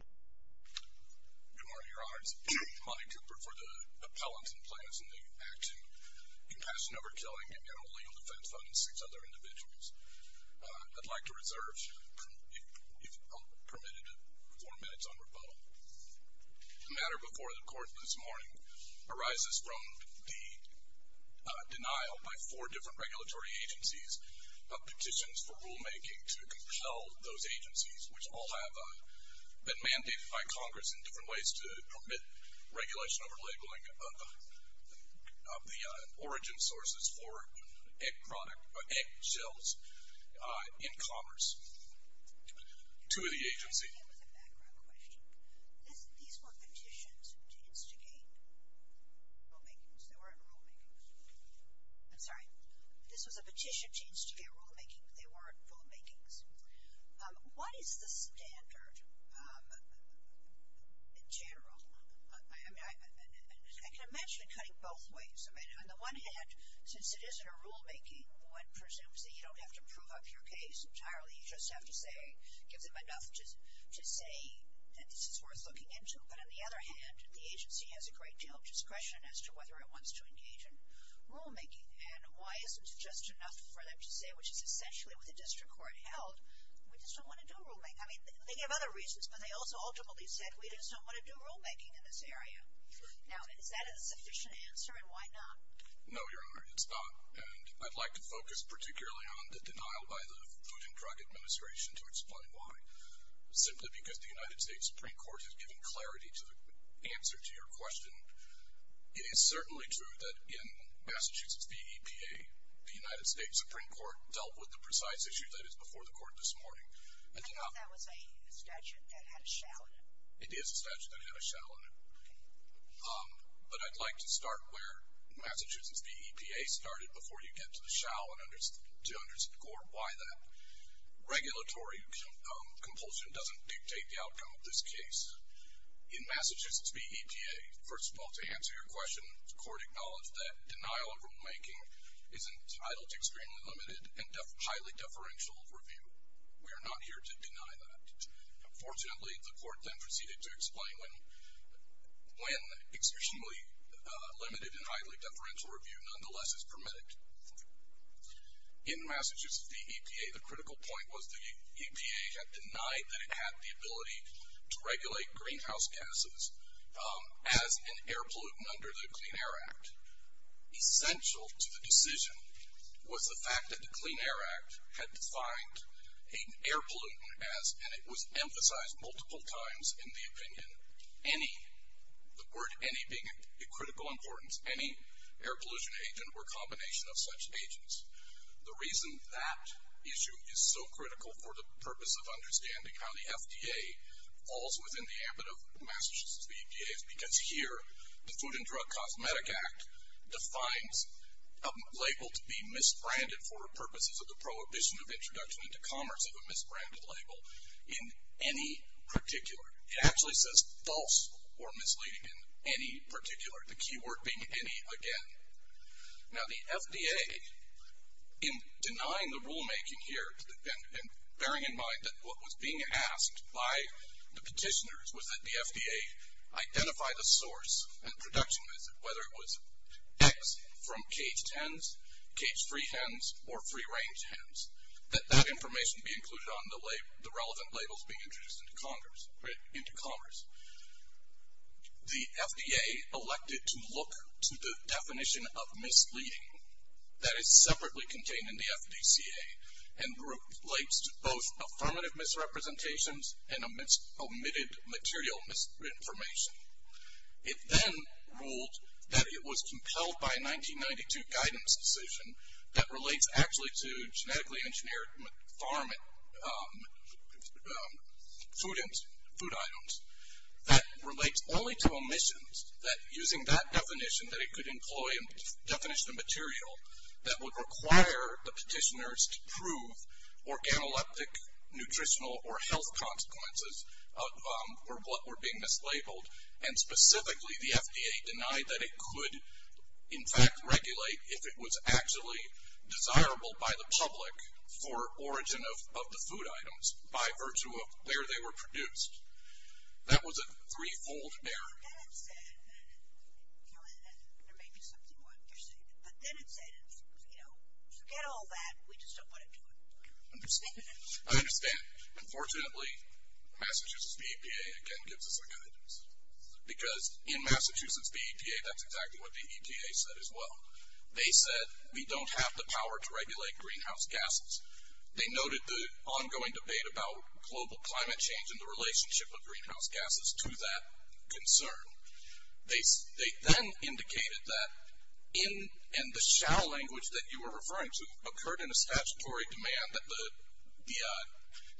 Good morning, Your Honors. Monty Cooper for the Appellants and Plaintiffs in the Act in Compassion Over Killing and General Legal Defense Fund and six other individuals. I'd like to reserve, if permitted, four minutes on rebuttal. The matter before the Court this morning arises from the denial by four different regulatory agencies of petitions for rulemaking to compel those agencies, which all have been mandated by Congress in different ways to permit regulation over labeling of the origin sources for egg shells in commerce to the agency. I have a background question. These were petitions to instigate rulemakings. They weren't rulemakings. I'm sorry. This was a petition to instigate rulemaking. They weren't rulemakings. What is the standard in general? I can imagine it cutting both ways. On the one hand, since it isn't a rulemaking, one presumes that you don't have to prove up your case entirely. You just have to say, give them enough to say that this is worth looking into. But on the other hand, the agency has a great deal of discretion as to whether it wants to engage in rulemaking. And why isn't just enough for them to say, which is essentially what the district court held, we just don't want to do rulemaking. I mean, they have other reasons, but they also ultimately said we just don't want to do rulemaking in this area. Now, is that a sufficient answer, and why not? No, Your Honor, it's not. And I'd like to focus particularly on the denial by the Food and Drug Administration to explain why. Simply because the United States Supreme Court has given clarity to the answer to your question. It is certainly true that in Massachusetts, the EPA, the United States Supreme Court, dealt with the precise issue that is before the court this morning. I thought that was a statute that had a shall in it. It is a statute that had a shall in it. But I'd like to start where Massachusetts v. EPA started before you get to the shall and to underscore why that. Regulatory compulsion doesn't dictate the outcome of this case. In Massachusetts v. EPA, first of all, to answer your question, the court acknowledged that denial of rulemaking is entitled to extremely limited and highly deferential review. We are not here to deny that. Unfortunately, the court then proceeded to explain when extremely limited and highly deferential review nonetheless is permitted. In Massachusetts v. EPA, the critical point was the EPA had denied that it had the ability to regulate greenhouse gases as an air pollutant under the Clean Air Act. Essential to the decision was the fact that the Clean Air Act had defined an air pollutant as, and it was emphasized multiple times in the opinion, any, the word any being of critical importance, any air pollution agent or combination of such agents. The reason that issue is so critical for the purpose of understanding how the FDA falls within the ambit of Massachusetts v. EPA is because here the Food and Drug Cosmetic Act defines a label to be misbranded for purposes of the prohibition of introduction into commerce of a misbranded label in any particular. It actually says false or misleading in any particular, the key word being any again. Now the FDA, in denying the rulemaking here and bearing in mind that what was being asked by the petitioners was that the FDA identify the source and production method, whether it was X from caged hens, cage-free hens, or free-range hens, that that information be included on the relevant labels being introduced into commerce. The FDA elected to look to the definition of misleading, that is separately contained in the FDCA, and relates to both affirmative misrepresentations and omitted material misinformation. It then ruled that it was compelled by a 1992 guidance decision that relates actually to genetically engineered farm food items, that relates only to omissions, that using that definition that it could employ a definition of material that would require the petitioners to prove organoleptic nutritional or health consequences of what were being mislabeled, and specifically the FDA denied that it could in fact regulate if it was actually desirable by the public for origin of the food items by virtue of where they were produced. That was a threefold error. I understand. Unfortunately, Massachusetts VEPA, again, gives us a guidance. Because in Massachusetts VEPA, that's exactly what the EPA said as well. They said we don't have the power to regulate greenhouse gases. They noted the ongoing debate about global climate change and the relationship of greenhouse gases to that concern. They then indicated that in the shall language that you were referring to, occurred in a statutory demand that the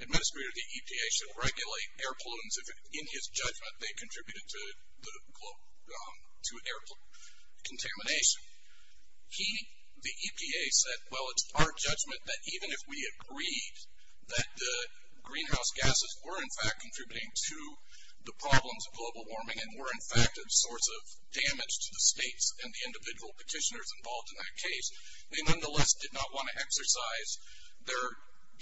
administrator of the EPA should regulate air pollutants if in his judgment they contributed to air contamination. He, the EPA, said, well, it's our judgment that even if we agreed that greenhouse gases were in fact contributing to the problems of global warming and were in fact a source of damage to the states and the individual petitioners involved in that case, they nonetheless did not want to exercise their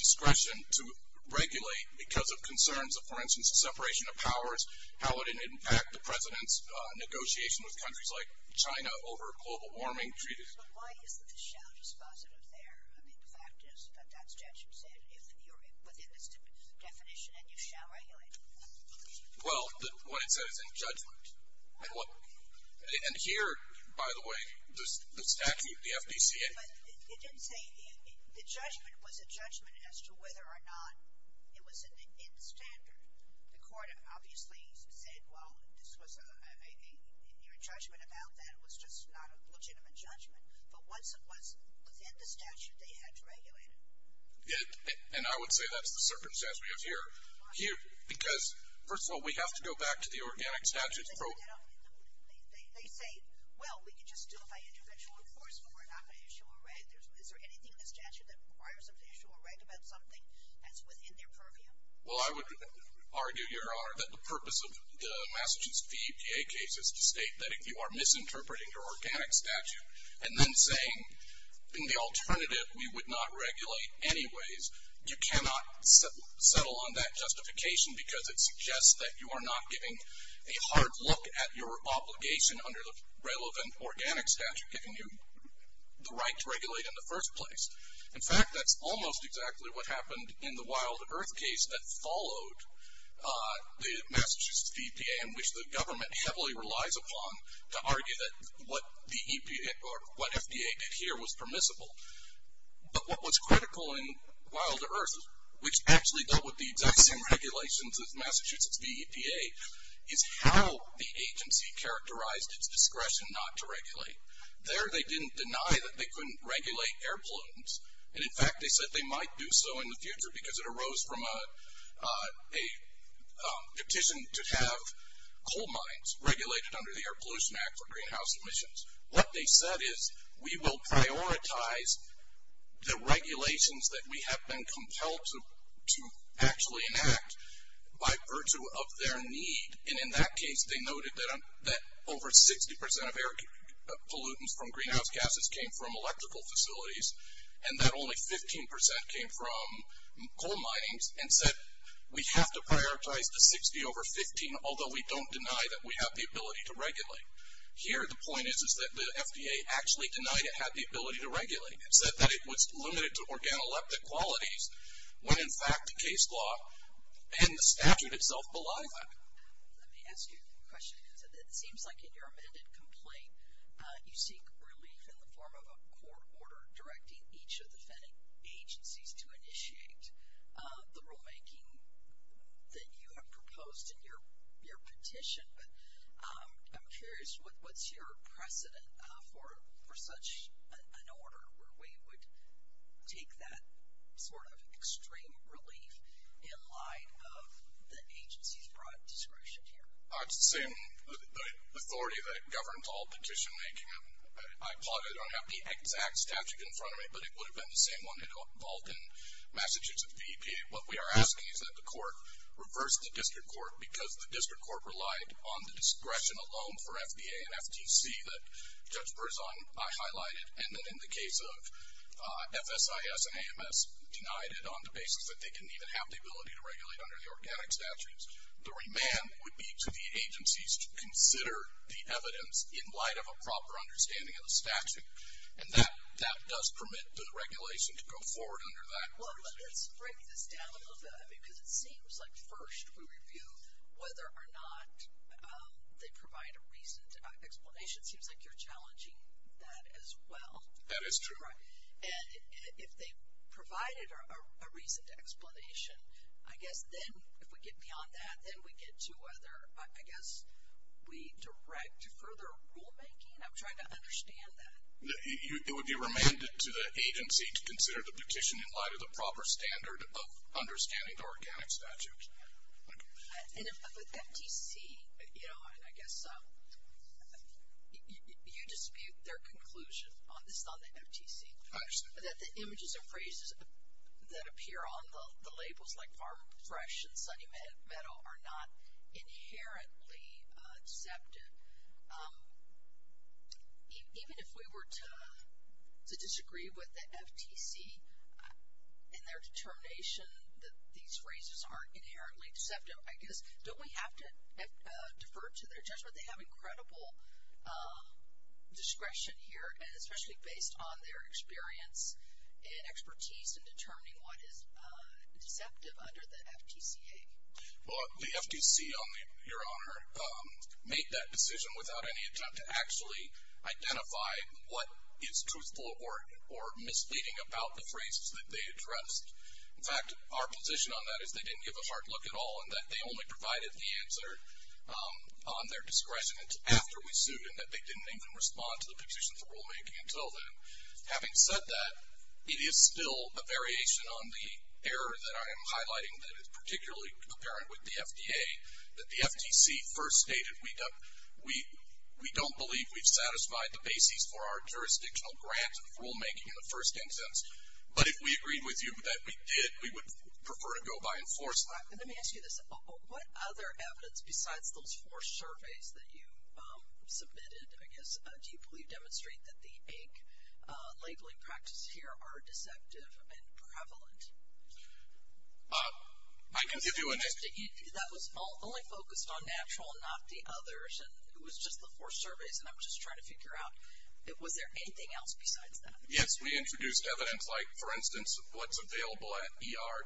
discretion to regulate because of concerns of, for instance, separation of powers, how it would impact the President's negotiation with countries like China over global warming. But why isn't the shall dispositive there? I mean, the fact is that that statute said if you're within the definition and you shall regulate. Well, what it said is in judgment. And here, by the way, the statute, the FDCA. But it didn't say the judgment was a judgment as to whether or not it was in standard. The court obviously said, well, this was a, your judgment about that was just not a legitimate judgment. But once it was within the statute, they had to regulate it. And I would say that's the circumstance we have here. Because, first of all, we have to go back to the organic statute. They say, well, we can just do it by individual enforcement. We're not going to issue a reg. Is there anything in the statute that requires them to issue a reg about something that's within their purview? Well, I would argue, Your Honor, that the purpose of the Massachusetts EPA case is to state that if you are misinterpreting your organic statute and then saying in the alternative we would not regulate anyways, you cannot settle on that justification because it suggests that you are not giving a hard look at your obligation under the relevant organic statute giving you the right to regulate in the first place. In fact, that's almost exactly what happened in the Wild Earth case that followed the Massachusetts EPA, and which the government heavily relies upon to argue that what the EPA, or what FDA did here was permissible. But what was critical in Wild Earth, which actually dealt with the exact same regulations as Massachusetts EPA, is how the agency characterized its discretion not to regulate. There they didn't deny that they couldn't regulate air pollutants, and in fact they said they might do so in the future because it arose from a petition to have coal mines regulated under the Air Pollution Act for greenhouse emissions. What they said is we will prioritize the regulations that we have been compelled to actually enact by virtue of their need, and in that case they noted that over 60% of air pollutants from greenhouse gases came from electrical facilities, and that only 15% came from coal mining, and said we have to prioritize the 60 over 15, although we don't deny that we have the ability to regulate. Here the point is that the FDA actually denied it had the ability to regulate. It said that it was limited to organoleptic qualities, when in fact the case law and the statute itself belied that. Let me ask you a question. It seems like in your amended complaint you seek relief in the form of a court order directing each of the agencies to initiate the rulemaking that you have proposed in your petition, but I'm curious what's your precedent for such an order where we would take that sort of extreme relief in light of the agency's broad discretion here? It's the same authority that governs all petition making. I applaud it. I don't have the exact statute in front of me, but it would have been the same one involved in Massachusetts DEPA. What we are asking is that the court reverse the district court because the district court relied on the discretion alone for FDA and FTC that Judge Berzon highlighted, and that in the case of FSIS and AMS denied it on the basis that they didn't even have the ability to regulate under the organic statutes. The remand would be to the agencies to consider the evidence in light of a proper understanding of the statute, and that does permit the regulation to go forward under that. Well, let's break this down a little bit, because it seems like first we review whether or not they provide a reason. That explanation seems like you're challenging that as well. That is true. And if they provided a reason to explanation, I guess then if we get beyond that, then we get to whether, I guess, we direct further rulemaking? I'm trying to understand that. It would be remanded to the agency to consider the petition in light of the proper standard of understanding the organic statute. And if the FTC, you know, and I guess you dispute their conclusion on this, not the FTC, that the images and phrases that appear on the labels like farm fresh and sunny meadow are not inherently deceptive, even if we were to disagree with the FTC in their determination that these phrases aren't inherently deceptive, I guess don't we have to defer to their judgment? They have incredible discretion here, and especially based on their experience and expertise in determining what is deceptive under the FTCA. Well, the FTC, Your Honor, made that decision without any attempt to actually identify what is truthful or misleading about the phrases that they addressed. In fact, our position on that is they didn't give a hard look at all and that they only provided the answer on their discretion after we sued and that they didn't even respond to the petition for rulemaking until then. Having said that, it is still a variation on the error that I am highlighting that is particularly apparent with the FDA that the FTC first stated, we don't believe we've satisfied the bases for our jurisdictional grant of rulemaking in the first instance. But if we agreed with you that we did, we would prefer to go by in force. Let me ask you this. What other evidence besides those four surveys that you submitted, I guess, do you believe demonstrate that the ink labeling practices here are deceptive and prevalent? I can give you an answer. That was only focused on natural, not the others, and it was just the four surveys, and I'm just trying to figure out, was there anything else besides that? Yes, we introduced evidence like, for instance, what's available at ER,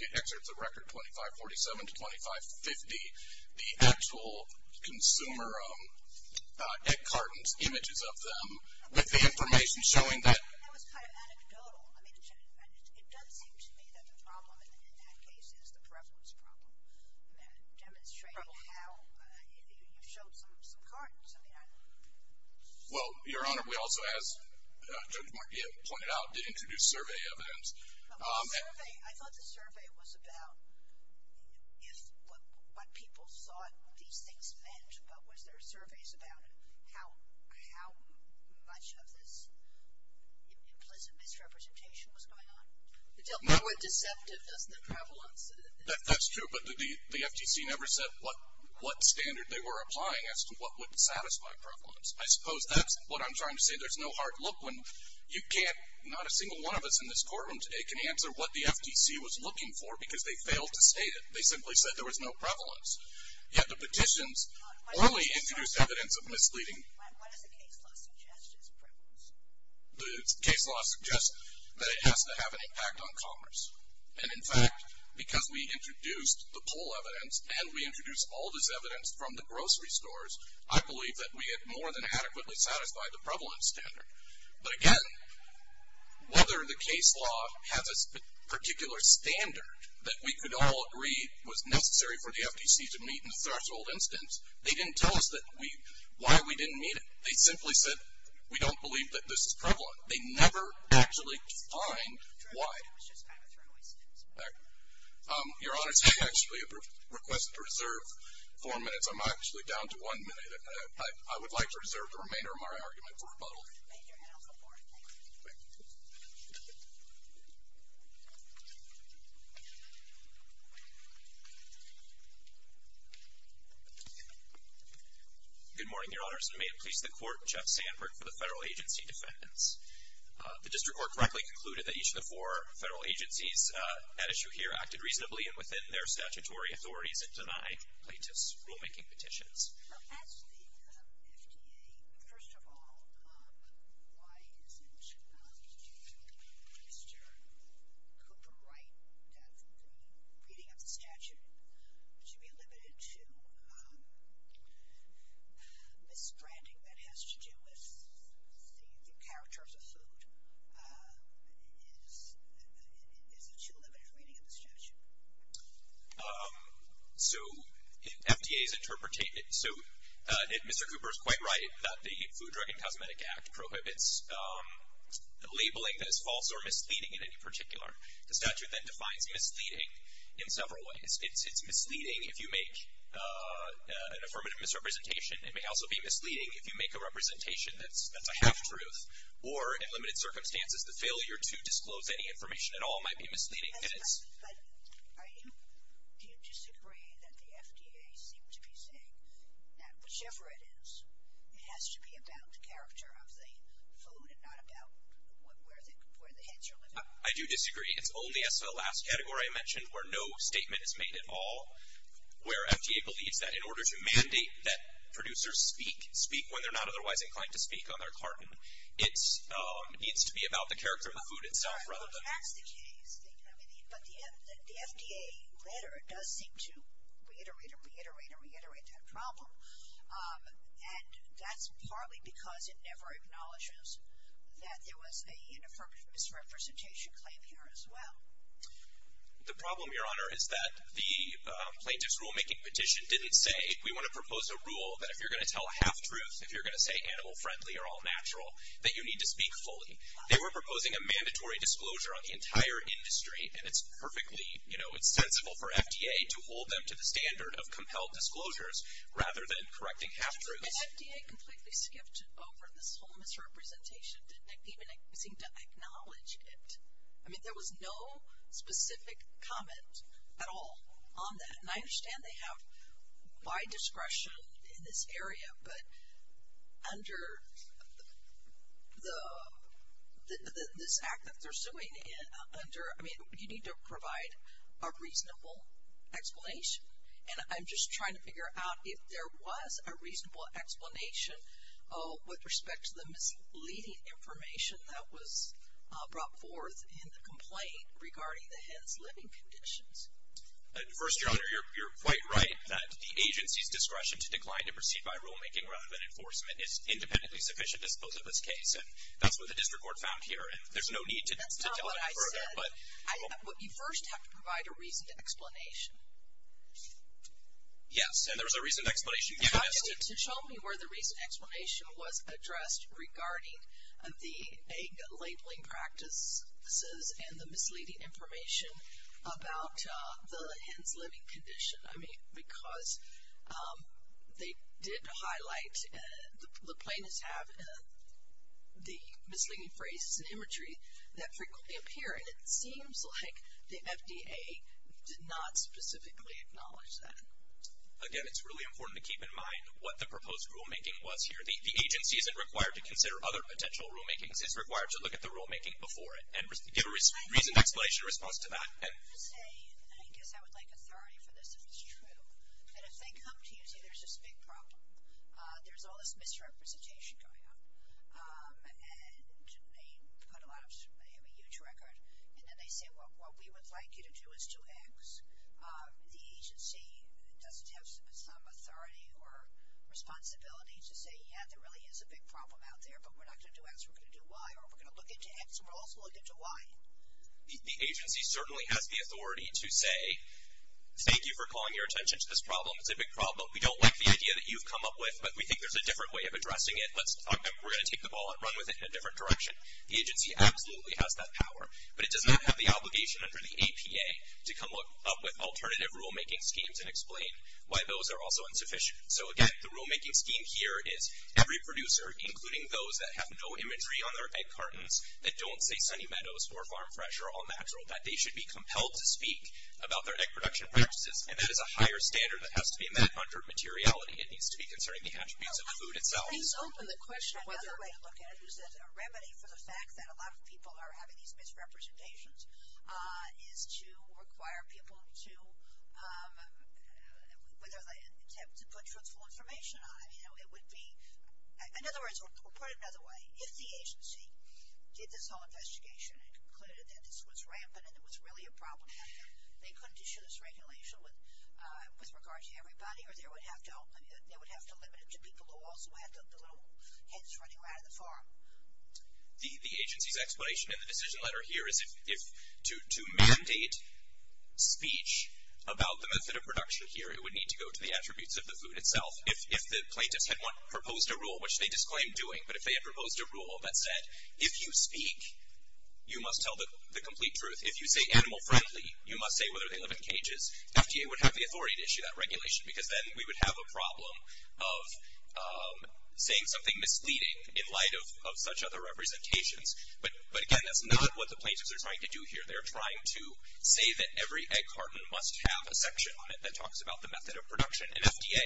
the excerpts of record 2547 to 2550, the actual consumer cartons, images of them, with the information showing that. That was kind of anecdotal. It does seem to me that the problem in that case is the prevalence problem, demonstrating how you showed some cartons. Well, Your Honor, we also, as Judge Markian pointed out, did introduce survey evidence. I thought the survey was about what people thought these things meant, but was there surveys about how much of this implicit misrepresentation was going on? They weren't deceptive as the prevalence. That's true, but the FTC never said what standard they were applying as to what would satisfy prevalence. I suppose that's what I'm trying to say. There's no hard look when you can't, not a single one of us in this courtroom today can answer what the FTC was looking for because they failed to state it. They simply said there was no prevalence. Yet the petitions only introduced evidence of misleading. What does the case law suggest as prevalence? The case law suggests that it has to have an impact on commerce, and in fact, because we introduced the poll evidence and we introduced all this evidence from the grocery stores, I believe that we had more than adequately satisfied the prevalence standard. But, again, whether the case law has a particular standard that we could all agree was necessary for the FTC to meet in the first instance, they didn't tell us why we didn't meet it. They simply said we don't believe that this is prevalent. They never actually defined why. Your Honor, I actually have a request to reserve four minutes. I'm actually down to one minute. I would like to reserve the remainder of my argument for rebuttal. Thank you. Good morning, Your Honors. May it please the Court, Jeff Sandberg for the federal agency defendants. The district court correctly concluded that each of the four federal agencies at issue here acted reasonably and within their statutory authorities and deny plaintiffs' rulemaking petitions. As the FDA, first of all, why isn't Mr. Cooper Wright, that reading of the statute should be limited to misbranding that has to do with the characters of food? Is it too limited a reading of the statute? So, in FDA's interpretation, so Mr. Cooper is quite right that the Food, Drug, and Cosmetic Act prohibits labeling that is false or misleading in any particular. The statute then defines misleading in several ways. It's misleading if you make an affirmative misrepresentation. It may also be misleading if you make a representation that's a half-truth or, in limited circumstances, the failure to disclose any information at all might be misleading. But I do disagree that the FDA seems to be saying that whichever it is, it has to be about the character of the food and not about where the heads are living. I do disagree. It's only, as to the last category I mentioned, where no statement is made at all, where FDA believes that in order to mandate that producers speak, speak when they're not otherwise inclined to speak on their carton, it needs to be about the character of the food itself rather than That's the case. But the FDA letter does seem to reiterate and reiterate and reiterate that problem. And that's partly because it never acknowledges that there was a misrepresentation claim here as well. The problem, Your Honor, is that the plaintiff's rulemaking petition didn't say, we want to propose a rule that if you're going to tell half-truths, if you're going to say animal-friendly or all-natural, that you need to speak fully. They were proposing a mandatory disclosure on the entire industry, and it's perfectly sensible for FDA to hold them to the standard of compelled disclosures rather than correcting half-truths. The FDA completely skipped over this whole misrepresentation, didn't even seem to acknowledge it. I mean, there was no specific comment at all on that. And I understand they have wide discretion in this area, but under this act that they're suing under, I mean, you need to provide a reasonable explanation. And I'm just trying to figure out if there was a reasonable explanation with respect to the misleading information that was brought forth in the complaint regarding the head's living conditions. First, Your Honor, you're quite right that the agency's discretion to decline to proceed by rulemaking rather than enforcement is independently sufficient as opposed to this case. And that's what the district court found here. And there's no need to tell them further. That's not what I said. You first have to provide a reasoned explanation. Yes, and there was a reasoned explanation given as to. So show me where the reasoned explanation was addressed regarding the egg labeling practices and the misleading information about the hen's living condition. I mean, because they did highlight, the plaintiffs have the misleading phrases and imagery that frequently appear. And it seems like the FDA did not specifically acknowledge that. Again, it's really important to keep in mind what the proposed rulemaking was here. The agency isn't required to consider other potential rulemakings. It's required to look at the rulemaking before it and give a reasoned explanation in response to that. I guess I would like authority for this if it's true. But if they come to you and say there's this big problem, there's all this misrepresentation going on. And they put a lot of, they have a huge record. And then they say, well, what we would like you to do is to X the agency does have some authority or responsibility to say, yeah, there really is a big problem out there. But we're not going to do X. We're going to do Y. Or we're going to look into X. And we're also going to look into Y. The agency certainly has the authority to say, thank you for calling your attention to this problem. It's a big problem. We don't like the idea that you've come up with. But we think there's a different way of addressing it. We're going to take the ball and run with it in a different direction. The agency absolutely has that power. But it does not have the obligation under the APA to come up with and explain why those are also insufficient. So, again, the rulemaking scheme here is every producer, including those that have no imagery on their egg cartons, that don't say Sunny Meadows or Farm Fresh or All Natural, that they should be compelled to speak about their egg production practices. And that is a higher standard that has to be met under materiality. It needs to be concerning the attributes of the food itself. Another way to look at it is as a remedy for the fact that a lot of people are having these misrepresentations is to require people to, whether they attempt to put truthful information on it. In other words, or put it another way, if the agency did this whole investigation and concluded that this was rampant and it was really a problem, they couldn't issue this regulation with regard to everybody or they would have to limit it to people who also had their little heads running around on the farm. The agency's explanation in the decision letter here is if to mandate speech about the method of production here, it would need to go to the attributes of the food itself. If the plaintiffs had proposed a rule, which they disclaimed doing, but if they had proposed a rule that said, if you speak, you must tell the complete truth. If you say animal friendly, you must say whether they live in cages, FDA would have the authority to issue that regulation because then we would have a problem of saying something misleading in light of such other representations. But again, that's not what the plaintiffs are trying to do here. They're trying to say that every egg carton must have a section on it that talks about the method of production. And FDA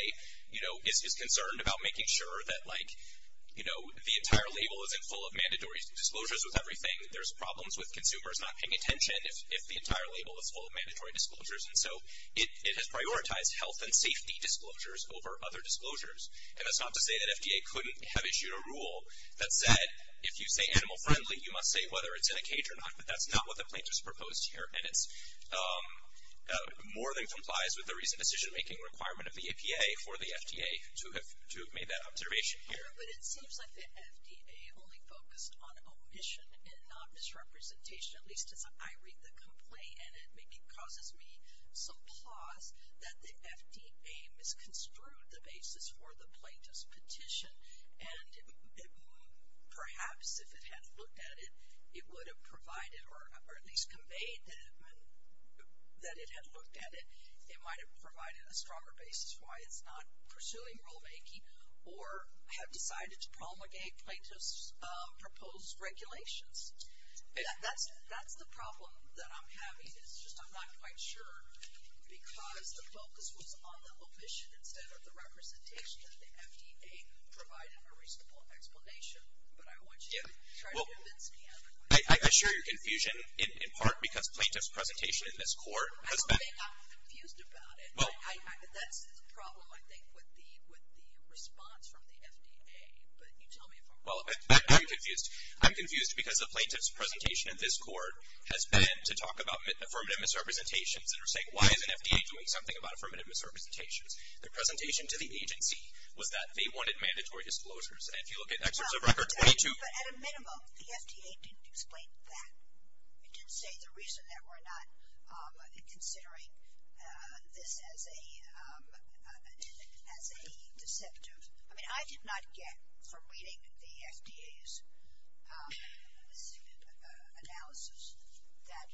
is concerned about making sure that the entire label isn't full of mandatory disclosures with everything. There's problems with consumers not paying attention if the entire label is full of mandatory disclosures. And so it has prioritized health and safety disclosures over other disclosures. And that's not to say that FDA couldn't have issued a rule that said, if you say animal friendly, you must say whether it's in a cage or not. But that's not what the plaintiffs proposed here. And it more than complies with the recent decision-making requirement of the APA for the FDA to have made that observation here. But it seems like the FDA only focused on omission and not misrepresentation, at least as I read the complaint. And it causes me some pause that the FDA misconstrued the basis for the plaintiff's petition. And perhaps if it had looked at it, it would have provided or at least conveyed that it had looked at it. It might have provided a stronger basis why it's not pursuing rulemaking or have decided to promulgate plaintiffs' proposed regulations. That's the problem that I'm having. It's just I'm not quite sure. Because the focus was on the omission instead of the representation that the FDA provided a reasonable explanation. But I want you to try to convince me otherwise. I share your confusion, in part because plaintiff's presentation in this court has been- I don't think I'm confused about it. That's the problem, I think, with the response from the FDA. But you tell me if I'm wrong. I'm confused. I'm confused because the plaintiff's presentation in this court has been to talk about affirmative misrepresentations and are saying, why is an FDA doing something about affirmative misrepresentations? The presentation to the agency was that they wanted mandatory disclosures. And if you look at excerpts of Record 22- But at a minimum, the FDA didn't explain that. It didn't say the reason that we're not considering this as a deceptive. I mean, I did not get from reading the FDA's analysis that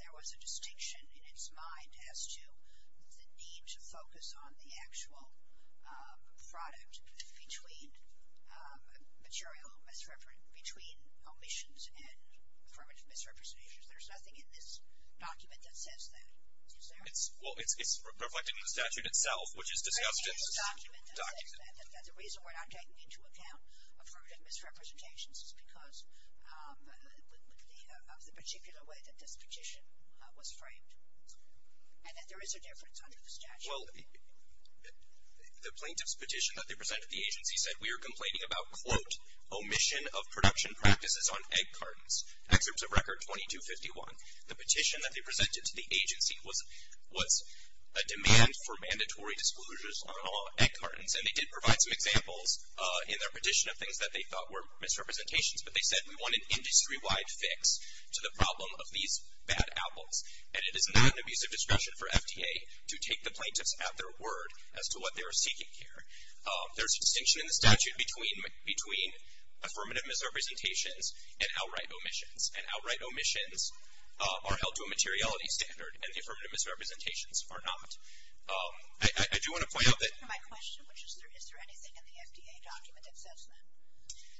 there was a distinction in its mind as to the need to focus on the actual product between material misrepresentations, between omissions and affirmative misrepresentations. There's nothing in this document that says that. Is there? Well, it's reflected in the statute itself, which is discussed in- The document that says that the reason we're not taking into account affirmative misrepresentations is because of the particular way that this petition was framed and that there is a difference under the statute. Well, the plaintiff's petition that they presented to the agency said, we are complaining about, quote, omission of production practices on egg cartons. Excerpts of Record 22-51. The petition that they presented to the agency was a demand for mandatory disclosures on egg cartons. And they did provide some examples in their petition of things that they thought were misrepresentations. But they said, we want an industry-wide fix to the problem of these bad apples. And it is not an abusive discretion for FDA to take the plaintiffs at their word as to what they are seeking here. There's a distinction in the statute between affirmative misrepresentations and outright omissions. And outright omissions are held to a materiality standard, and affirmative misrepresentations are not. I do want to point out that- My question, which is, is there anything in the FDA document that says that?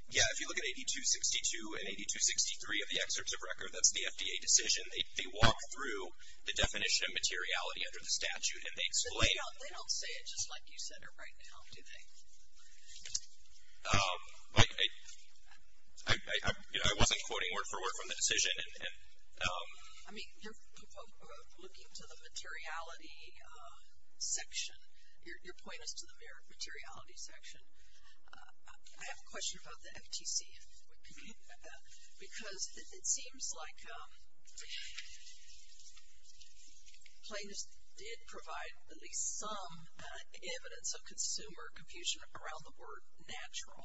Yeah, if you look at 82-62 and 82-63 of the excerpts of Record, that's the FDA decision. They walk through the definition of materiality under the statute, and they explain- They don't say it just like you said it right now, do they? I wasn't quoting word-for-word from the decision. I mean, you're looking to the materiality section. Your point is to the materiality section. I have a question about the FTC. Because it seems like plaintiffs did provide at least some evidence of consumer confusion around the word natural.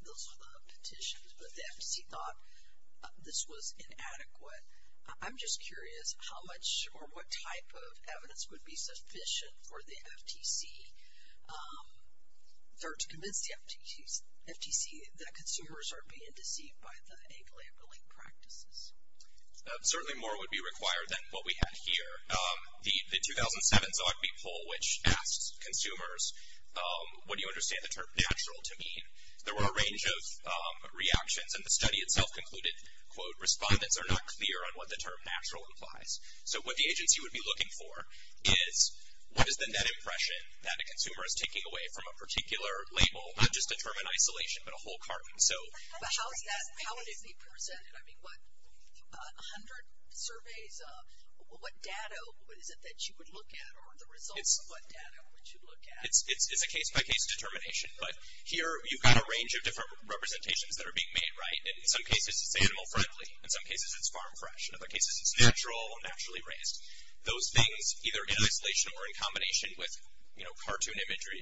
Those were the petitions, but the FTC thought this was inadequate. I'm just curious how much or what type of evidence would be sufficient for the FTC to convince the FTC that consumers are being deceived by the egg-labeling practices. Certainly more would be required than what we have here. The 2007 Zogby Poll, which asked consumers, what do you understand the term natural to mean? There were a range of reactions, and the study itself concluded, quote, respondents are not clear on what the term natural implies. So what the agency would be looking for is what is the net impression that a consumer is taking away from a particular label, not just a term in isolation, but a whole carton. But how would it be presented? A hundred surveys, what data is it that you would look at, or the results of what data would you look at? It's a case-by-case determination. But here you've got a range of different representations that are being made. In some cases it's animal-friendly. In some cases it's farm-fresh. In other cases it's natural or naturally raised. Those things, either in isolation or in combination with cartoon imagery,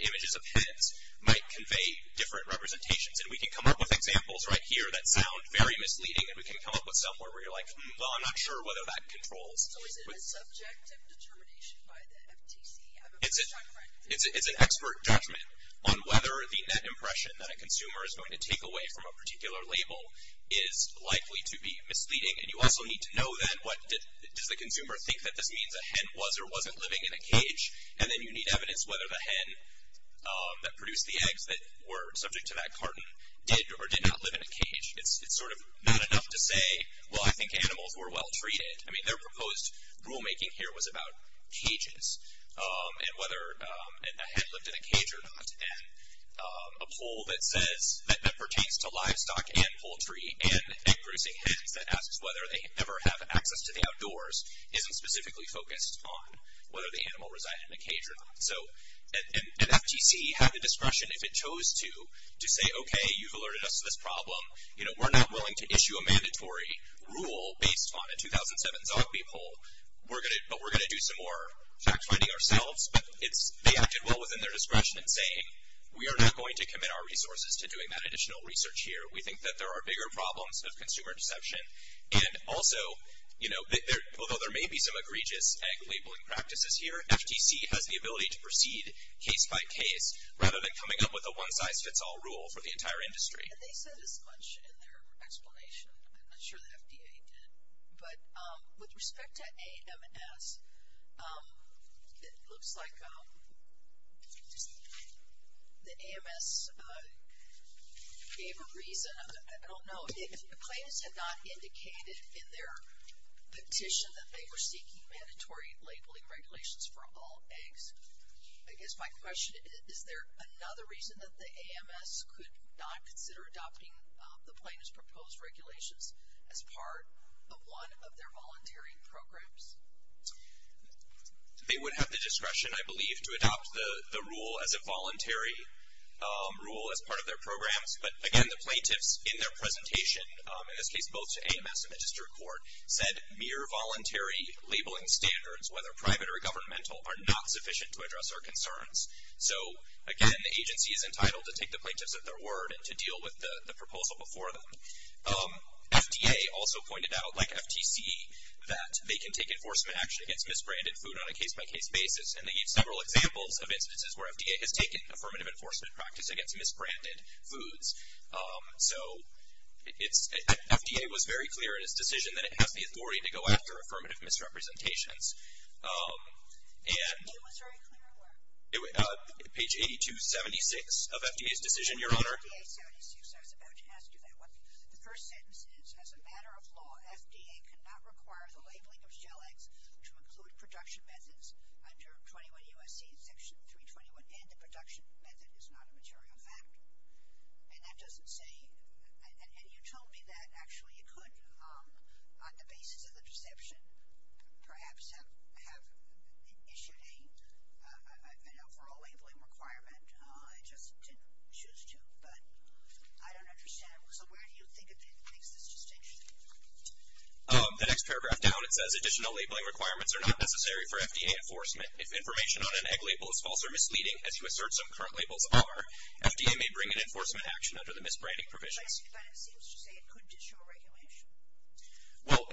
images of pets, might convey different representations. And we can come up with examples right here that sound very misleading, and we can come up with some where we're like, well, I'm not sure whether that controls. So is it a subjective determination by the FTC? It's an expert judgment on whether the net impression that a consumer is going to take away from a particular label is likely to be misleading. And you also need to know, then, does the consumer think that this means a hen was or wasn't living in a cage? And then you need evidence whether the hen that produced the eggs that were subject to that cartoon did or did not live in a cage. It's sort of not enough to say, well, I think animals were well-treated. I mean, their proposed rulemaking here was about cages and whether a hen lived in a cage or not. And a poll that pertains to livestock and poultry and egg-producing hens that asks whether they ever have access to the outdoors isn't specifically focused on whether the animal resided in a cage or not. And FTC had the discretion, if it chose to, to say, okay, you've alerted us to this problem. We're not willing to issue a mandatory rule based on a 2007 Zogby poll, but we're going to do some more fact-finding ourselves. But they acted well within their discretion in saying, we are not going to commit our resources to doing that additional research here. We think that there are bigger problems of consumer deception. And also, although there may be some egregious egg-labeling practices here, FTC has the ability to proceed case-by-case rather than coming up with a one-size-fits-all rule for the entire industry. And they said as much in their explanation. I'm not sure the FDA did. But with respect to AMS, it looks like the AMS gave a reason. I don't know. If the claimants had not indicated in their petition that they were seeking mandatory labeling regulations for all eggs, I guess my question is, is there another reason that the AMS could not consider adopting the plaintiff's proposed regulations as part of one of their voluntary programs? They would have the discretion, I believe, to adopt the rule as a voluntary rule as part of their programs. But, again, the plaintiffs in their presentation, in this case, both to AMS and the district court, said mere voluntary labeling standards, whether private or governmental, are not sufficient to address our concerns. So, again, the agency is entitled to take the plaintiffs at their word and to deal with the proposal before them. FDA also pointed out, like FTC, that they can take enforcement action against misbranded food on a case-by-case basis. And they gave several examples of instances where FDA has taken affirmative enforcement practice against misbranded foods. So FDA was very clear in its decision that it has the authority to go after affirmative misrepresentations. And page 8276 of FDA's decision, Your Honor. Page 8276, I was about to ask you that one. The first sentence is, as a matter of law, FDA cannot require the labeling of shell eggs to include production methods under 21 U.S.C. Section 321, and the production method is not a material fact. And that doesn't say, and you told me that actually you could, on the basis of the perception, perhaps have issued an overall labeling requirement. It just didn't choose to. But I don't understand. So where do you think it makes this distinction? The next paragraph down, it says, additional labeling requirements are not necessary for FDA enforcement. And if information on an egg label is false or misleading, as you assert some current labels are, FDA may bring an enforcement action under the misbranding provisions. But it seems to say it could issue a regulation. Well,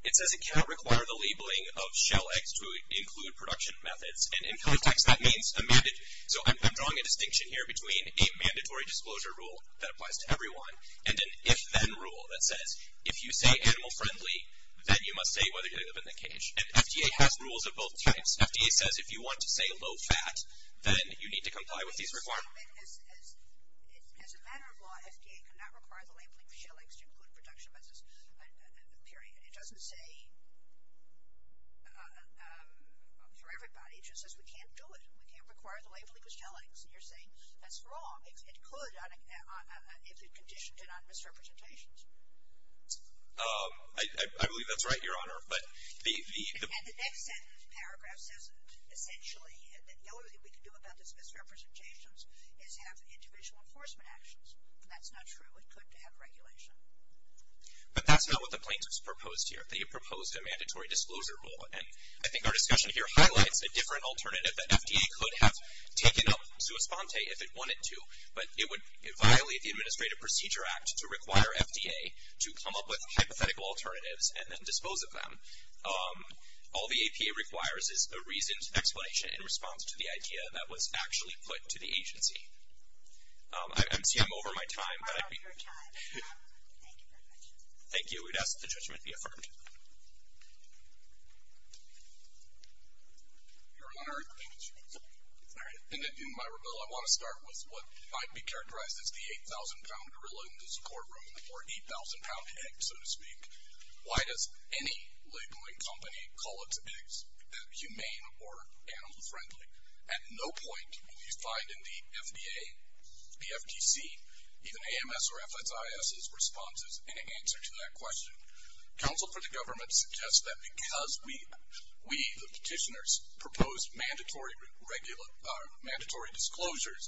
it says it cannot require the labeling of shell eggs to include production methods. And in context, that means a mandated, so I'm drawing a distinction here between a mandatory disclosure rule that applies to everyone and an if-then rule that says if you say animal friendly, then you must say whether you live in the cage. And FDA has rules of both types. FDA says if you want to say low-fat, then you need to comply with these requirements. As a matter of law, FDA cannot require the labeling of shell eggs to include production methods, period. It doesn't say for everybody. It just says we can't do it. We can't require the labeling of shell eggs. And you're saying that's wrong. It could if it conditioned it on misrepresentations. I believe that's right, Your Honor. And the next paragraph says, essentially, the only thing we can do about this misrepresentations is have individual enforcement actions. And that's not true. It could have regulation. But that's not what the plaintiffs proposed here. They proposed a mandatory disclosure rule. And I think our discussion here highlights a different alternative that FDA could have taken up sua sponte if it wanted to. But it would violate the Administrative Procedure Act to require FDA to come up with hypothetical alternatives and then dispose of them. All the APA requires is a reasoned explanation in response to the idea that was actually put to the agency. I'm over my time. Thank you very much. Thank you. We would ask that the judgment be affirmed. Your Honor, in my rebuttal, I want to start with what might be characterized as the 8,000-pound gorilla in the support room or 8,000-pound egg, so to speak. Why does any labeling company call its eggs humane or animal friendly? At no point do we find in the FDA, the FTC, even AMS or FSIS's responses in answer to that question. Counsel for the government suggests that because we, the petitioners, proposed mandatory disclosures,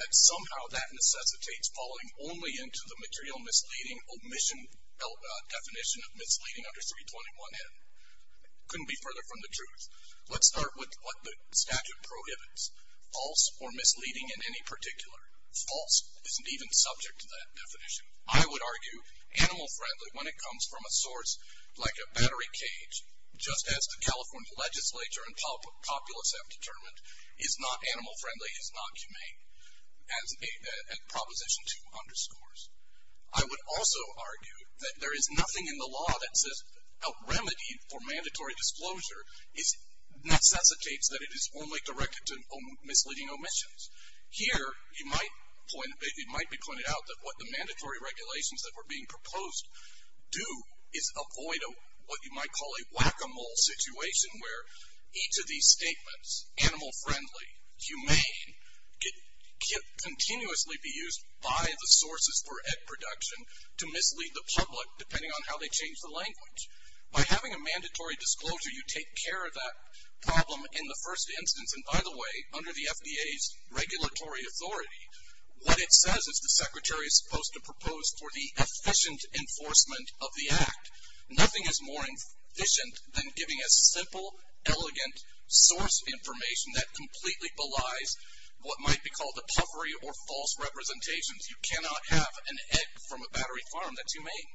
that somehow that necessitates falling only into the material misleading omission definition of misleading under 321N. Couldn't be further from the truth. Let's start with what the statute prohibits, false or misleading in any particular. False isn't even subject to that definition. I would argue animal friendly when it comes from a source like a battery cage, just as the California legislature and populace have determined, is not animal friendly, is not humane, as Proposition 2 underscores. I would also argue that there is nothing in the law that says a remedy for mandatory disclosure necessitates that it is only directed to misleading omissions. Here, it might be pointed out that what the mandatory regulations that were being proposed do is avoid what you might call a whack-a-mole situation where each of these statements, animal friendly, humane, can continuously be used by the sources for egg production to mislead the public depending on how they change the language. By having a mandatory disclosure, you take care of that problem in the first instance. And by the way, under the FDA's regulatory authority, what it says is the secretary is supposed to propose for the efficient enforcement of the act. Nothing is more efficient than giving a simple, elegant source information that completely belies what might be called a puffery or false representations. You cannot have an egg from a battery farm that's humane.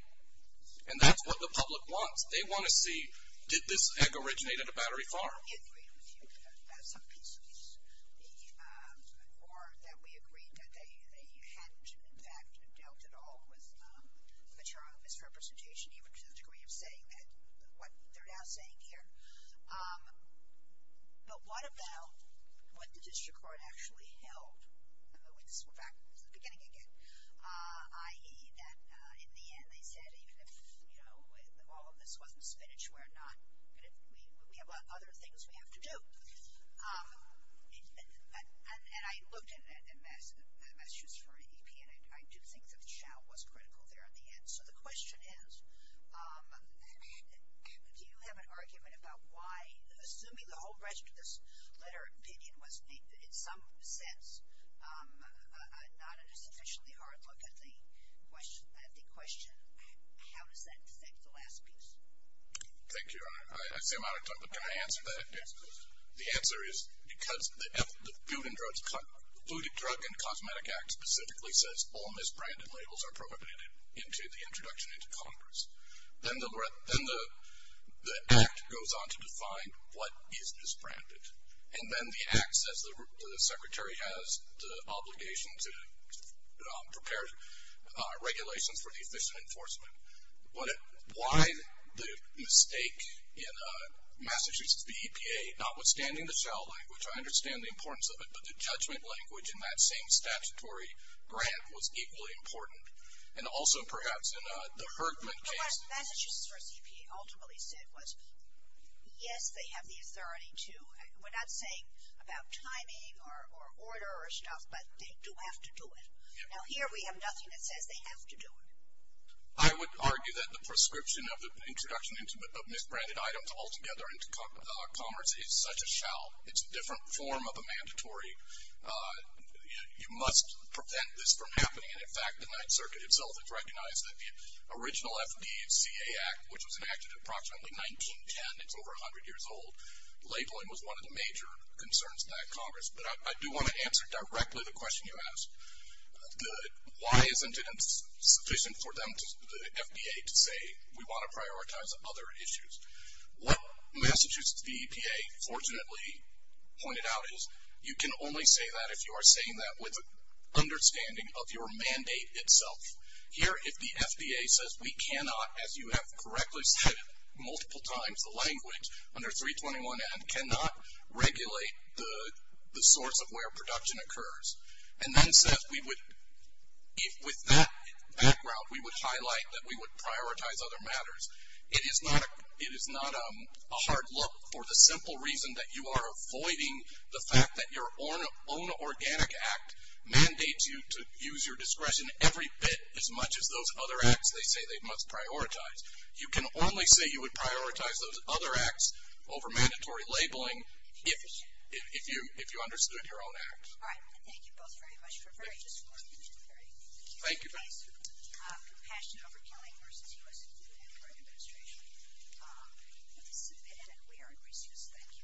And that's what the public wants. They want to see did this egg originate at a battery farm. I agree with you about some pieces. Or that we agreed that they hadn't, in fact, dealt at all with material misrepresentation, even to the degree of saying what they're now saying here. But what about what the district court actually held? And this is back to the beginning again. I.e., that in the end, they said even if all of this wasn't finished, we have other things we have to do. And I looked at it in Massachusetts for an EP, and I do think that the shout was critical there in the end. So the question is, do you have an argument about why, assuming the whole rest of this letter of opinion was, in some sense, not a sufficiently hard look at the question, how does that affect the last piece? Thank you, Your Honor. I seem out of time, but can I answer that? The answer is because the Food and Drug and Cosmetic Act specifically says all misbranded labels are prohibited into the introduction into Congress. Then the act goes on to define what is misbranded. And then the act says the secretary has the obligation to prepare regulations for deficient enforcement. Why the mistake in Massachusetts, the EPA, notwithstanding the shout language, I understand the importance of it, but the judgment language in that same statutory grant was equally important. And also perhaps in the Herdman case. But what Massachusetts versus EPA ultimately said was, yes, they have the authority to. We're not saying about timing or order or stuff, but they do have to do it. Now, here we have nothing that says they have to do it. I would argue that the prescription of the introduction of misbranded items altogether into Congress is such a shout. It's a different form of a mandatory, you must prevent this from happening. And, in fact, the Ninth Circuit itself has recognized that the original FDCA Act, which was enacted approximately 1910, it's over 100 years old, labeling was one of the major concerns in that Congress. But I do want to answer directly the question you asked. Why isn't it sufficient for them, the FDA, to say we want to prioritize other issues? What Massachusetts, the EPA, fortunately pointed out is you can only say that if you are saying that with an understanding of your mandate itself. Here, if the FDA says we cannot, as you have correctly said multiple times, the language under 321N cannot regulate the source of where production occurs. And then says we would, with that background, we would highlight that we would prioritize other matters. It is not a hard look for the simple reason that you are avoiding the fact that your own organic act mandates you to use your discretion every bit as much as those other acts they say they must prioritize. You can only say you would prioritize those other acts over mandatory labeling if you understood your own acts. All right. I want to thank you both very much for a very just and very curious advice. Thank you. Compassion over killing versus U.S. and U.S. administration. Submit and we are in recess. Thank you.